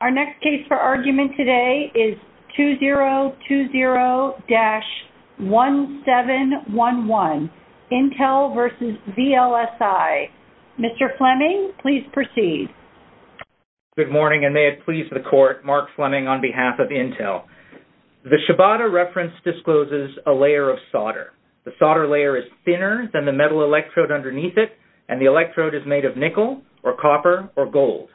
Our next case for argument today is 2020-1711, Intel v. VLSI. Mr. Fleming, please proceed. Good morning, and may it please the court, Mark Fleming on behalf of Intel. The Shibata reference discloses a layer of solder. The solder layer is thinner than the metal electrode underneath it, and the electrode is made of nickel, or copper, or gold.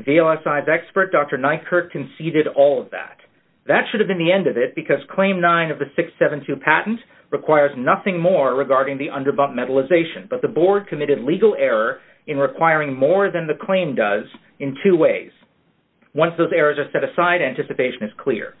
VLSI's expert, Dr. Nykerk, conceded all of that. That should have been the end of it, because Claim 9 of the 672 patent requires nothing more regarding the underbump metallization, but the board committed legal error in requiring more than the claim does in two ways. Once those errors are set aside, anticipation is clear.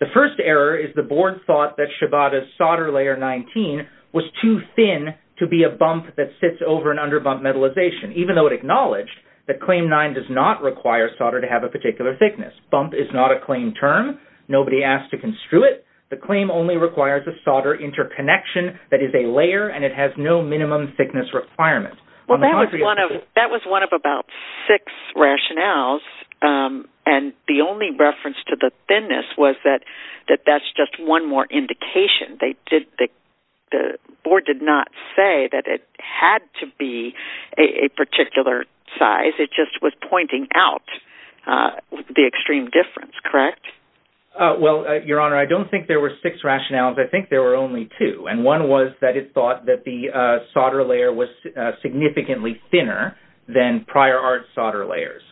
The first error is the board thought that Shibata's solder layer 19 was too thin to be a bump that sits over an underbump metallization, even though it acknowledged that Claim 9 does not require solder to have a particular thickness. Bump is not a claim term. Nobody asked to construe it. The claim only requires a solder interconnection that is a layer, and it has no minimum thickness requirement. Well, that was one of about six rationales, and the only reference to the thinness was that that's just one more indication. The board did not say that it had to be a particular size. It just was pointing out the extreme difference, correct? Well, Your Honor, I don't think there were six rationales. I think there were only two, and one was that it thought that the solder layer was significantly thinner than prior art solder layers.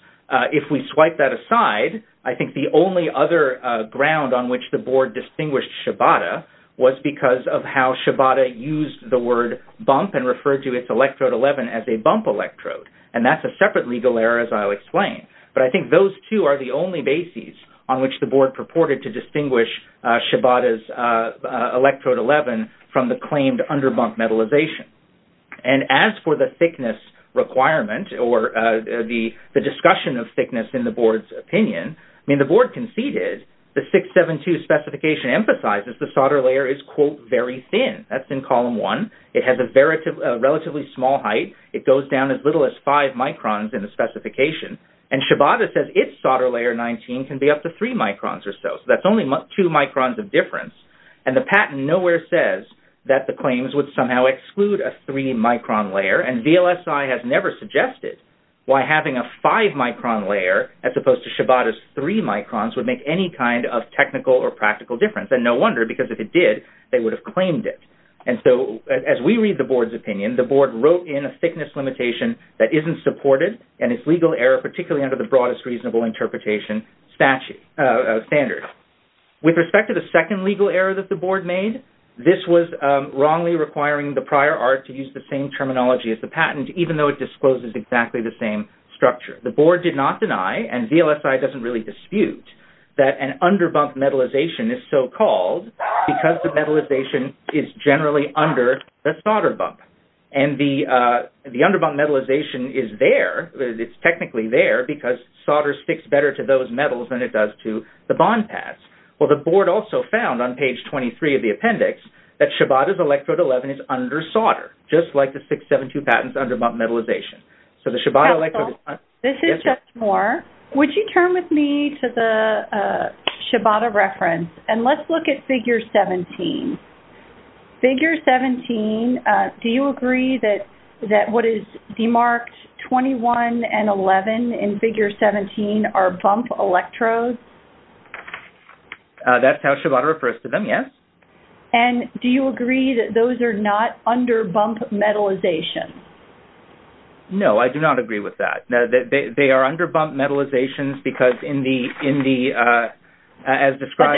If we swipe that aside, I think the only other ground on which the board distinguished Shibata was because of how Shibata used the word bump and referred to its electrode 11 as a bump electrode, and that's a separate legal error, as I'll explain. But I think those two are the only bases on which the board purported to distinguish Shibata's electrode 11 from the claimed underbump metallization. And as for the thickness requirement or the discussion of thickness in the board's opinion, I mean, the board conceded the 672 specification emphasizes the solder layer is, quote, very thin. That's in column one. It has a relatively small height. It goes down as little as five microns in the specification, and Shibata says its solder layer 19 can be up to three microns or so, so that's only two microns of difference. And the patent nowhere says that the claims would somehow exclude a three-micron layer, and VLSI has never suggested why having a five-micron layer as opposed to Shibata's three microns would make any kind of technical or practical difference. And no wonder, because if it did, they would have claimed it. And so as we read the board's opinion, the board wrote in a thickness limitation that isn't supported and is legal error, particularly under the broadest reasonable interpretation standards. With respect to the second legal error that the board made, this was wrongly requiring the prior art to use the same terminology as the patent, even though it discloses exactly the same structure. The board did not deny, and VLSI doesn't really dispute, that an underbump metallization is so-called because the metallization is generally under the solder bump. And the underbump metallization is there. It's technically there because solder sticks better to those metals than it does to the bond pads. Well, the board also found on page 23 of the appendix that Shibata's electrode 11 is under solder, just like the 672 patent's underbump metallization. So the Shibata electrode is not- Counsel, this is Judge Moore. Would you turn with me to the Shibata reference? And let's look at figure 17. Figure 17, do you agree that what is demarked 21 and 11 in figure 17 are bump electrodes? That's how Shibata refers to them, yes. And do you agree that those are not underbump metallization? No, I do not agree with that. They are underbump metallizations because in the- Wait,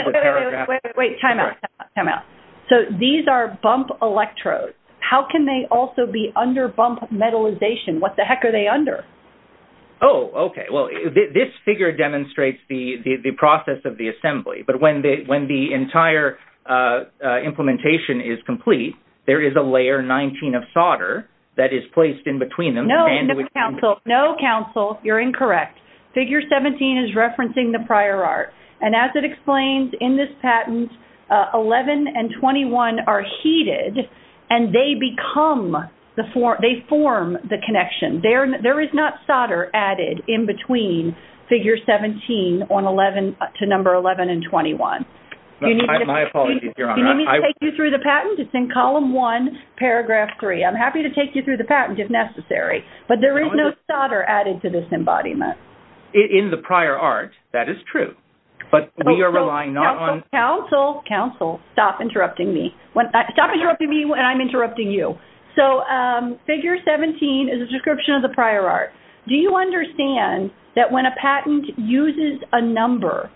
wait, wait, wait, time out, time out. So these are bump electrodes. How can they also be underbump metallization? What the heck are they under? Oh, okay. Well, this figure demonstrates the process of the assembly. But when the entire implementation is complete, there is a layer 19 of solder that is placed in between them. No, Counsel, no, Counsel, you're incorrect. Figure 17 is referencing the prior art. And as it explains in this patent, 11 and 21 are heated, and they become-they form the connection. There is not solder added in between figure 17 to number 11 and 21. My apologies, Your Honor. Do you need me to take you through the patent? It's in column 1, paragraph 3. I'm happy to take you through the patent if necessary. But there is no solder added to this embodiment. In the prior art, that is true. But we are relying not on- Counsel, Counsel, Counsel, stop interrupting me. Stop interrupting me when I'm interrupting you. So figure 17 is a description of the prior art. Do you understand that when a patent uses a number,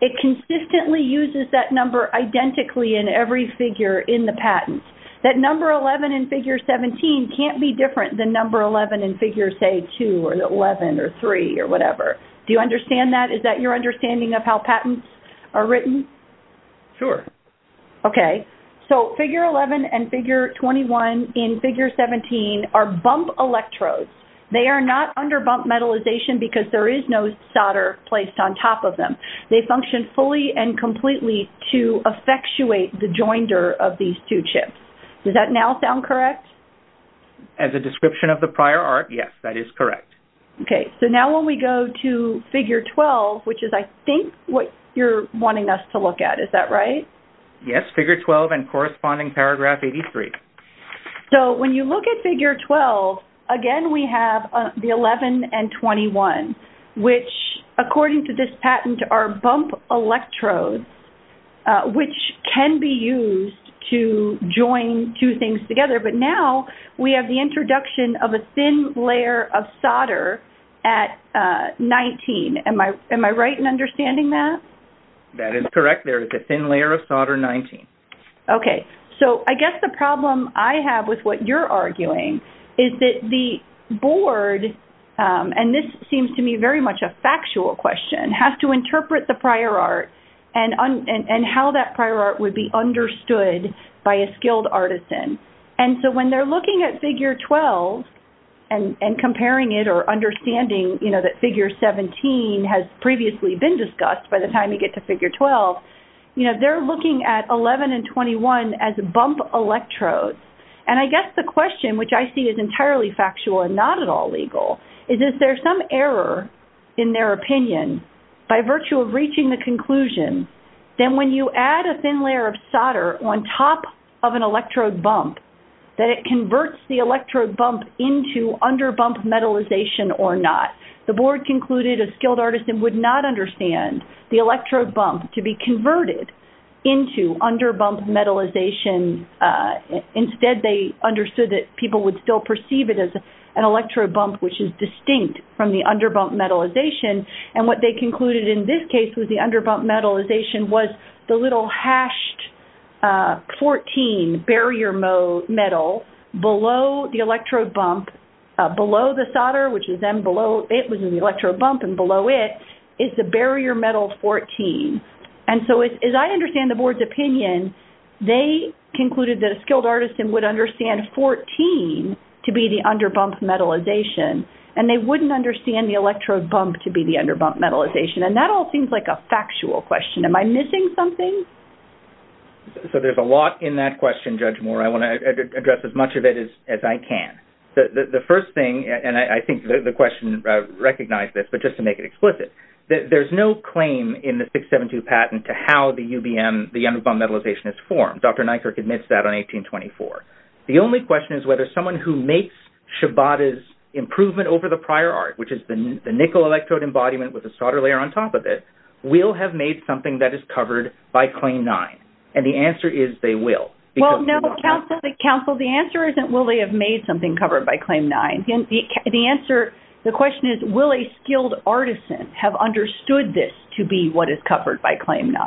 it consistently uses that number identically in every figure in the patent? That number 11 in figure 17 can't be different than number 11 in figure, say, 2 or 11 or 3 or whatever. Do you understand that? Is that your understanding of how patents are written? Sure. Okay. So figure 11 and figure 21 in figure 17 are bump electrodes. They are not under bump metallization because there is no solder placed on top of them. They function fully and completely to effectuate the joinder of these two chips. Does that now sound correct? As a description of the prior art, yes, that is correct. Okay. So now when we go to figure 12, which is, I think, what you're wanting us to look at. Is that right? Yes, figure 12 and corresponding paragraph 83. So when you look at figure 12, again, we have the 11 and 21, which according to this patent are bump electrodes, which can be used to join two things together. But now we have the introduction of a thin layer of solder at 19. Am I right in understanding that? That is correct. There is a thin layer of solder 19. Okay. So I guess the problem I have with what you're arguing is that the board, and this seems to me very much a factual question, has to interpret the prior art and how that prior art would be understood by a skilled artisan. And so when they're looking at figure 12 and comparing it or understanding, you know, that figure 17 has previously been discussed by the time you get to figure 12, you know, that they're looking at 11 and 21 as bump electrodes. And I guess the question, which I see is entirely factual and not at all legal, is is there some error in their opinion by virtue of reaching the conclusion that when you add a thin layer of solder on top of an electrode bump, that it converts the electrode bump into under-bump metallization or not? The board concluded a skilled artisan would not understand the electrode bump to be converted into under-bump metallization. Instead, they understood that people would still perceive it as an electrode bump, which is distinct from the under-bump metallization. And what they concluded in this case was the under-bump metallization was the little hashed 14 barrier metal below the electrode bump, below the solder, which is then below it was an electrode bump, and below it is the barrier metal 14. And so as I understand the board's opinion, they concluded that a skilled artisan would understand 14 to be the under-bump metallization, and they wouldn't understand the electrode bump to be the under-bump metallization. And that all seems like a factual question. Am I missing something? So there's a lot in that question, Judge Moore. I want to address as much of it as I can. The first thing, and I think the question recognized this, but just to make it explicit, there's no claim in the 672 patent to how the UBM, the under-bump metallization is formed. Dr. Nykirk admits that on 1824. The only question is whether someone who makes Shabada's improvement over the prior art, which is the nickel electrode embodiment with a solder layer on top of it, will have made something that is covered by Claim 9. And the answer is they will. Well, no, counsel, the answer isn't will they have made something covered by Claim 9. The answer, the question is will a skilled artisan have understood this to be what is covered by Claim 9.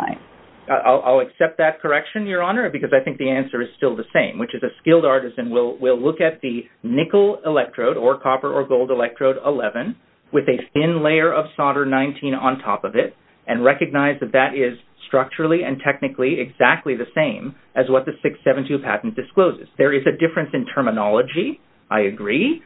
I'll accept that correction, Your Honor, because I think the answer is still the same, which is a skilled artisan will look at the nickel electrode or copper or gold electrode 11 with a thin layer of solder 19 on top of it and recognize that that is structurally and technically exactly the same as what the 672 patent discloses. There is a difference in terminology. I agree.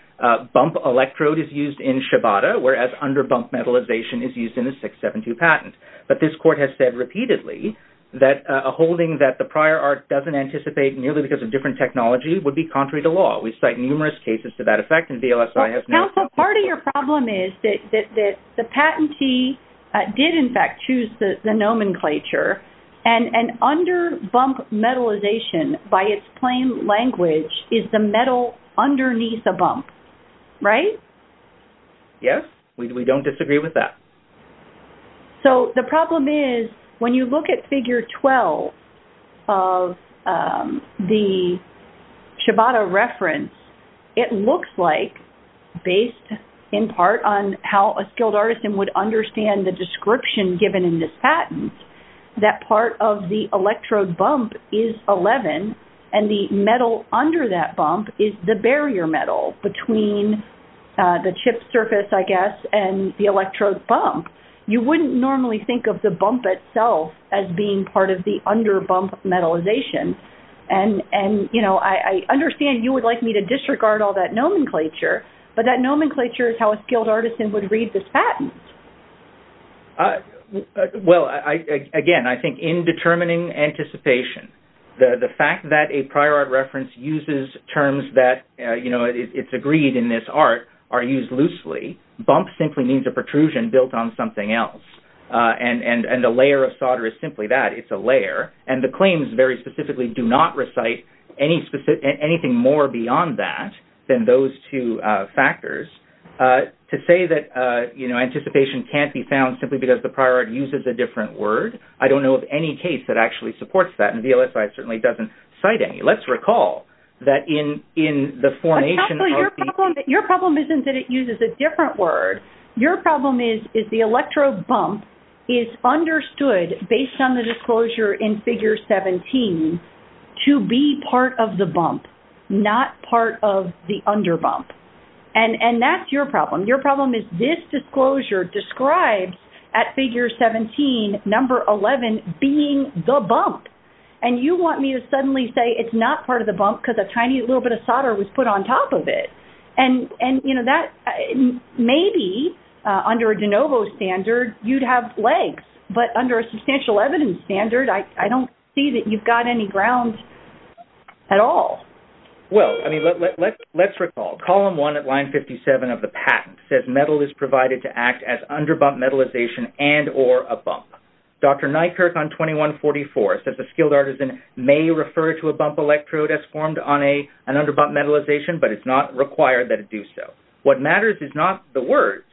Bump electrode is used in Shabada, whereas under-bump metallization is used in the 672 patent. But this court has said repeatedly that a holding that the prior art doesn't anticipate, merely because of different technology, would be contrary to law. We cite numerous cases to that effect. Counsel, part of your problem is that the patentee did, in fact, choose the nomenclature, and under-bump metallization, by its plain language, is the metal underneath a bump, right? Yes, we don't disagree with that. So the problem is, when you look at figure 12 of the Shabada reference, it looks like, based in part on how a skilled artisan would understand the description given in this patent, that part of the electrode bump is 11, and the metal under that bump is the barrier metal between the chip surface, I guess, and the electrode bump. You wouldn't normally think of the bump itself as being part of the under-bump metallization. And, you know, I understand you would like me to disregard all that nomenclature, but that nomenclature is how a skilled artisan would read this patent. Well, again, I think in determining anticipation, the fact that a prior art reference uses terms that, you know, it's agreed in this art, are used loosely. Bump simply means a protrusion built on something else. And a layer of solder is simply that, it's a layer. And the claims, very specifically, do not recite anything more beyond that than those two factors. To say that, you know, anticipation can't be found simply because the prior art uses a different word, I don't know of any case that actually supports that. And VLSI certainly doesn't cite any. Let's recall that in the formation of... Your problem isn't that it uses a different word. Your problem is the electrode bump is understood, based on the disclosure in Figure 17, to be part of the bump, not part of the under-bump. And that's your problem. Your problem is this disclosure described at Figure 17, Number 11, being the bump. And you want me to suddenly say it's not part of the bump because a tiny little bit of solder was put on top of it. And, you know, that... Maybe, under a de novo standard, you'd have legs. But under a substantial evidence standard, I don't see that you've got any ground at all. Well, I mean, let's recall. Column 1 at line 57 of the patent says metal is provided to act as under-bump metallization and or a bump. Dr. Nykerk on 2144 says a skilled artisan may refer to a bump electrode as formed on an under-bump metallization, but it's not required that it do so. What matters is not the words,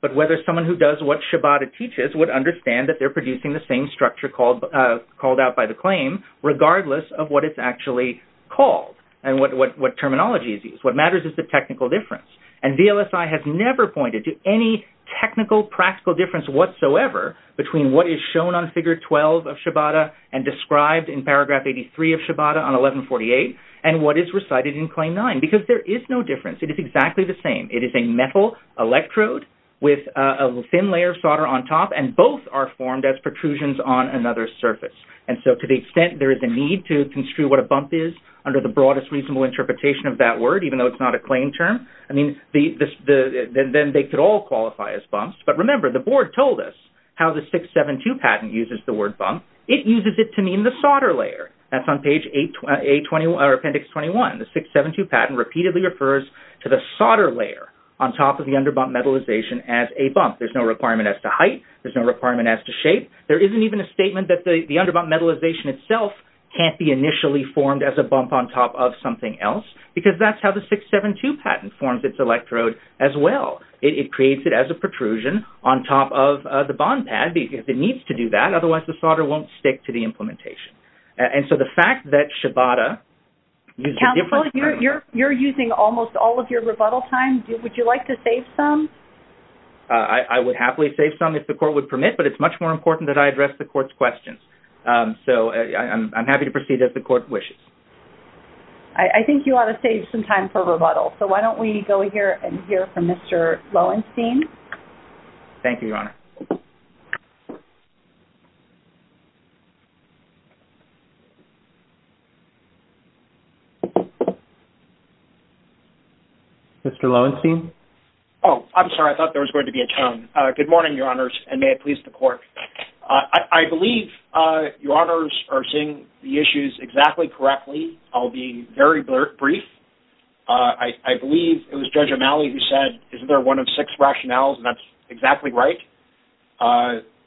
but whether someone who does what Shabbat teaches would understand that they're producing the same structure called out by the claim, regardless of what it's actually called. And what terminology is used. What matters is the technical difference. And VLSI has never pointed to any technical, practical difference whatsoever between what is shown on Figure 12 of Shabbat and described in Paragraph 83 of Shabbat on 1148 and what is recited in Claim 9, because there is no difference. It is exactly the same. It is a metal electrode with a thin layer of solder on top, and both are formed as protrusions on another surface. And so to the extent there is a need to construe what a bump is under the broadest reasonable interpretation of that word, even though it's not a claim term, I mean, then they could all qualify as bumps. But remember, the board told us how the 672 patent uses the word bump. It uses it to mean the solder layer. That's on page 821, or Appendix 21. The 672 patent repeatedly refers to the solder layer on top of the under-bump metallization as a bump. There's no requirement as to height. There's no requirement as to shape. There isn't even a statement that the under-bump metallization itself can't be initially formed as a bump on top of something else, because that's how the 672 patent forms its electrode as well. It creates it as a protrusion on top of the bond pad if it needs to do that. Otherwise, the solder won't stick to the implementation. And so the fact that Shabbat uses different terms... Counselor, you're using almost all of your rebuttal time. Would you like to save some? I would happily save some if the court would permit, but it's much more important that I address the court's questions. So I'm happy to proceed as the court wishes. I think you ought to save some time for rebuttal. So why don't we go here and hear from Mr. Loewenstein? Thank you, Your Honor. Mr. Loewenstein? Oh, I'm sorry. I thought there was going to be a tone. Good morning, Your Honors, and may it please the court. I believe Your Honors are seeing the issues exactly correctly. I'll be very brief. I believe it was Judge O'Malley who said, isn't there one of six rationales, and that's exactly right.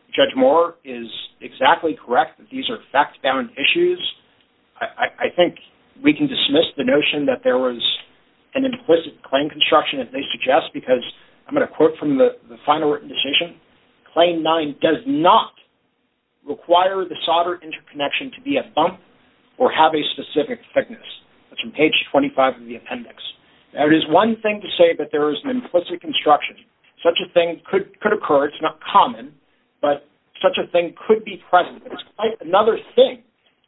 Judge Moore is exactly correct that these are fact-bound issues. I think we can dismiss the notion that there was an implicit claim construction, as they suggest, because I'm going to quote from the final written decision. Claim nine does not require the solder interconnection to be a bump or have a specific thickness. That's on page 25 of the appendix. Now, it is one thing to say that there is an implicit construction. Such a thing could occur. It's not common, but such a thing could be present. It's quite another thing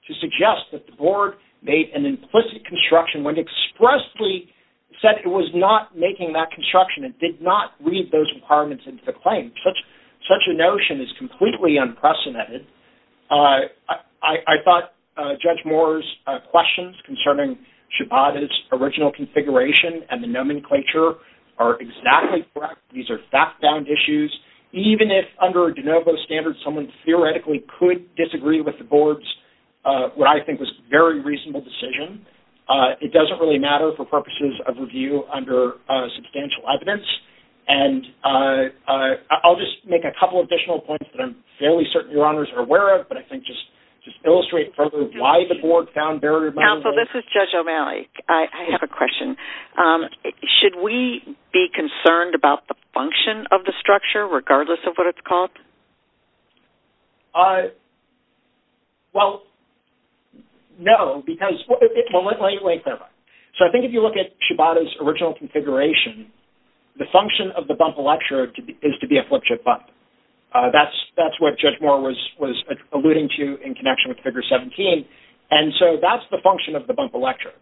to suggest that the board made an implicit construction when it expressly said it was not making that construction and did not read those requirements into the claim. Such a notion is completely unprecedented. I thought Judge Moore's questions concerning Shabbat's original configuration and the nomenclature are exactly correct. These are fact-bound issues. Even if, under a de novo standard, someone theoretically could disagree with the board's what I think was a very reasonable decision, it doesn't really matter for purposes of review under substantial evidence. I'll just make a couple additional points that I'm fairly certain Your Honors are aware of, but I think just to illustrate further why the board found very— Counsel, this is Judge O'Malley. I have a question. Should we be concerned about the function of the structure regardless of what it's called? Well, no, because— Well, let me clarify. So I think if you look at Shabbat's original configuration, the function of the bump electorate is to be a flip-chip bump. That's what Judge Moore was alluding to in connection with Figure 17, and so that's the function of the bump electorate.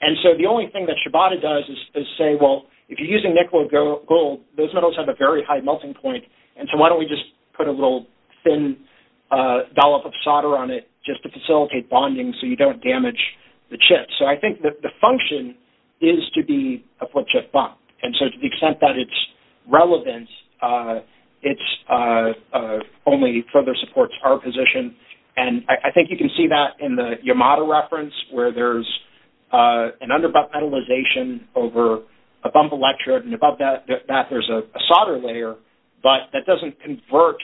And so the only thing that Shabbat does is say, well, if you're using nickel or gold, those metals have a very high melting point, and so why don't we just put a little thin dollop of solder on it just to facilitate bonding so you don't damage the chip. So I think that the function is to be a flip-chip bump, and so to the extent that it's relevant, it only further supports our position. And I think you can see that in the Yamada reference, where there's an under-bump metallization over a bump electrode, and above that there's a solder layer, but that doesn't convert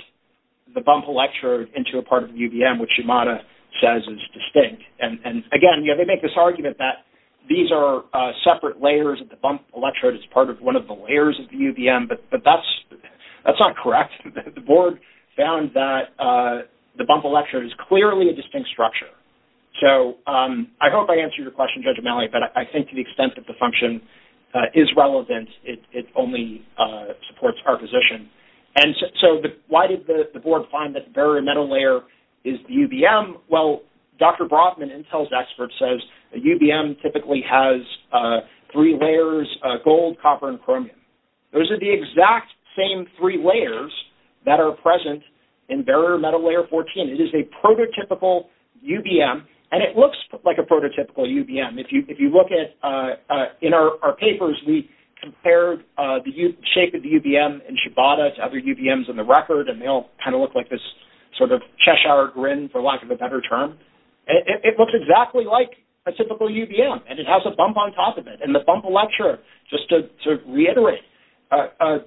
the bump electrode into a part of the UVM, which Yamada says is distinct. And again, they make this argument that these are separate layers of the bump electrode. It's part of one of the layers of the UVM, but that's not correct. The board found that the bump electrode is clearly a distinct structure. So I hope I answered your question, Judge O'Malley, but I think to the extent that the function is relevant, it only supports our position. And so why did the board find that the bare metal layer is UVM? Well, Dr. Brodman, Intel's expert, says UVM typically has three layers, gold, copper, and chromium. Those are the exact same three layers that are present in bare metal layer 14. It is a prototypical UVM, and it looks like a prototypical UVM. If you look in our papers, we compared the shape of the UVM in Shibata to other UVMs in the record, and they all kind of look like this sort of Cheshire Grin, for lack of a better term. It looks exactly like a typical UVM, and it has a bump on top of it. And the bump electrode, just to reiterate,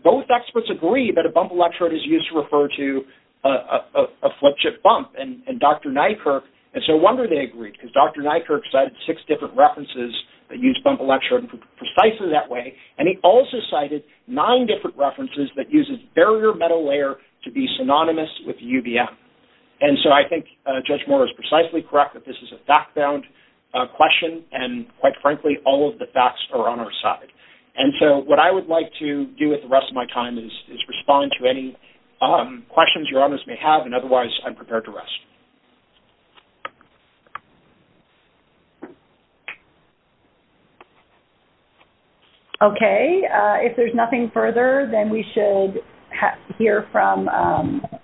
both experts agree that a bump electrode is used to refer to a flip-chip bump, and Dr. Nykerk, it's no wonder they agreed, because Dr. Nykerk cited six different references that use bump electrode precisely that way, and he also cited nine different references that uses barrier metal layer to be synonymous with UVM. And so I think Judge Moore is precisely correct that this is a fact-bound question, and quite frankly, all of the facts are on our side. And so what I would like to do with the rest of my time is respond to any questions Your Honors may have, and otherwise I'm prepared to rest. Okay. If there's nothing further, then we should hear from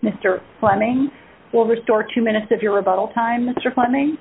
Mr. Fleming. We'll restore two minutes of your rebuttal time, Mr. Fleming.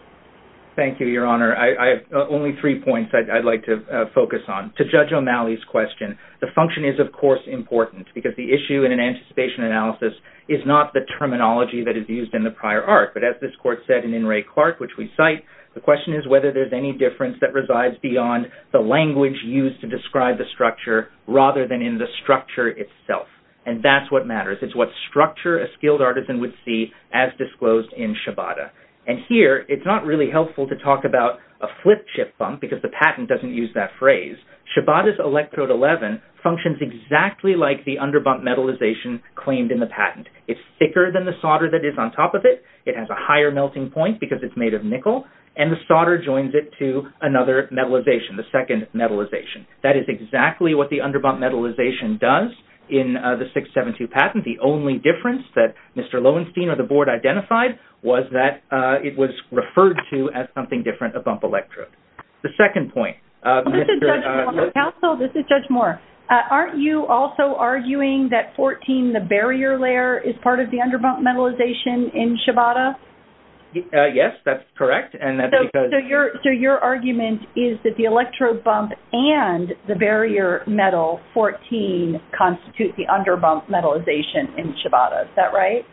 Thank you, Your Honor. I have only three points I'd like to focus on. To Judge O'Malley's question, the function is, of course, important, because the issue in an anticipation analysis is not the terminology that is used in the prior art, but as this court said in In Re Clarke, which we cite, the question is whether there's any difference that resides beyond the language used to describe the structure, rather than in the structure itself, and that's what matters. It's what structure a skilled artisan would see as disclosed in Shabbat. And here, it's not really helpful to talk about a flip chip bump because the patent doesn't use that phrase. Shabbat's electrode 11 functions exactly like the underbump metallization claimed in the patent. It's thicker than the solder that is on top of it. It has a higher melting point because it's made of nickel, and the solder joins it to another metallization, the second metallization. That is exactly what the underbump metallization does in the 672 patent. The only difference that Mr. Lowenstein or the board identified was that it was referred to as something different, a bump electrode. The second point. This is Judge Moore. Aren't you also arguing that 14, the barrier layer, is part of the underbump metallization in Shabbat? Yes, that's correct. So your argument is that the electrode bump and the barrier metal 14 constitute the underbump metallization in Shabbat. Is that right?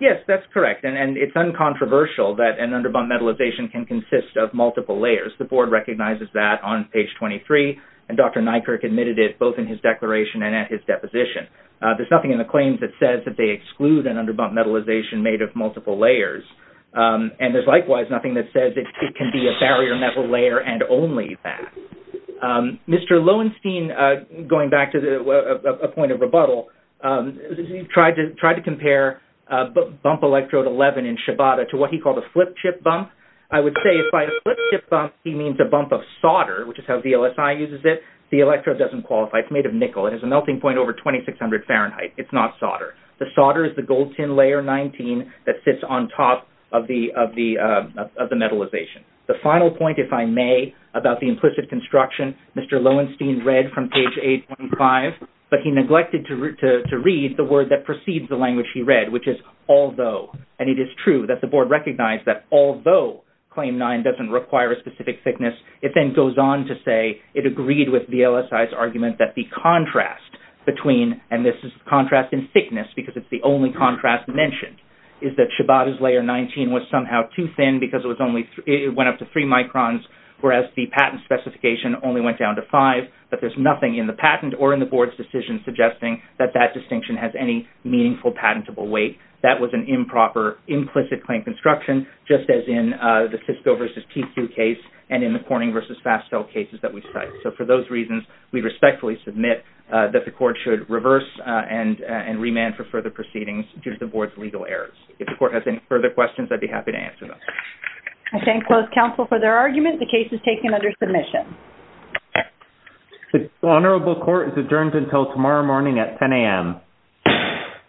Yes, that's correct. And it's uncontroversial that an underbump metallization can consist of multiple layers. The board recognizes that on page 23, and Dr. Nykirk admitted it both in his declaration and at his deposition. There's nothing in the claims that says that they exclude an underbump metallization made of multiple layers, and there's likewise nothing that says it can be a barrier metal layer and only that. Mr. Lowenstein, going back to a point of rebuttal, tried to compare bump electrode 11 in Shabbat to what he called a flip chip bump. I would say by a flip chip bump, he means a bump of solder, which is how VLSI uses it. The electrode doesn't qualify. It's made of nickel. It has a melting point over 2600 Fahrenheit. It's not solder. The solder is the gold tin layer 19 that sits on top of the metallization. The final point, if I may, about the implicit construction, Mr. Lowenstein read from page 8.5, but he neglected to read the word that precedes the language he read, which is although. And it is true that the board recognized that although claim 9 doesn't require a specific thickness, it then goes on to say it agreed with VLSI's argument that the contrast between, and this is contrast in thickness because it's the only contrast mentioned, is that Shabbat's layer 19 was somehow too thin because it went up to 3 microns, whereas the patent specification only went down to 5, but there's nothing in the patent or in the board's decision suggesting that that distinction has any meaningful patentable weight. That was an improper implicit claim construction, just as in the Fisco versus PQ case and in the Corning versus Fastell cases that we cite. So for those reasons, we respectfully submit that the court should reverse and remand for further proceedings due to the board's legal errors. If the court has any further questions, I'd be happy to answer them. I thank both counsel for their argument. The case is taken under submission. The honorable court is adjourned until tomorrow morning at 10 a.m.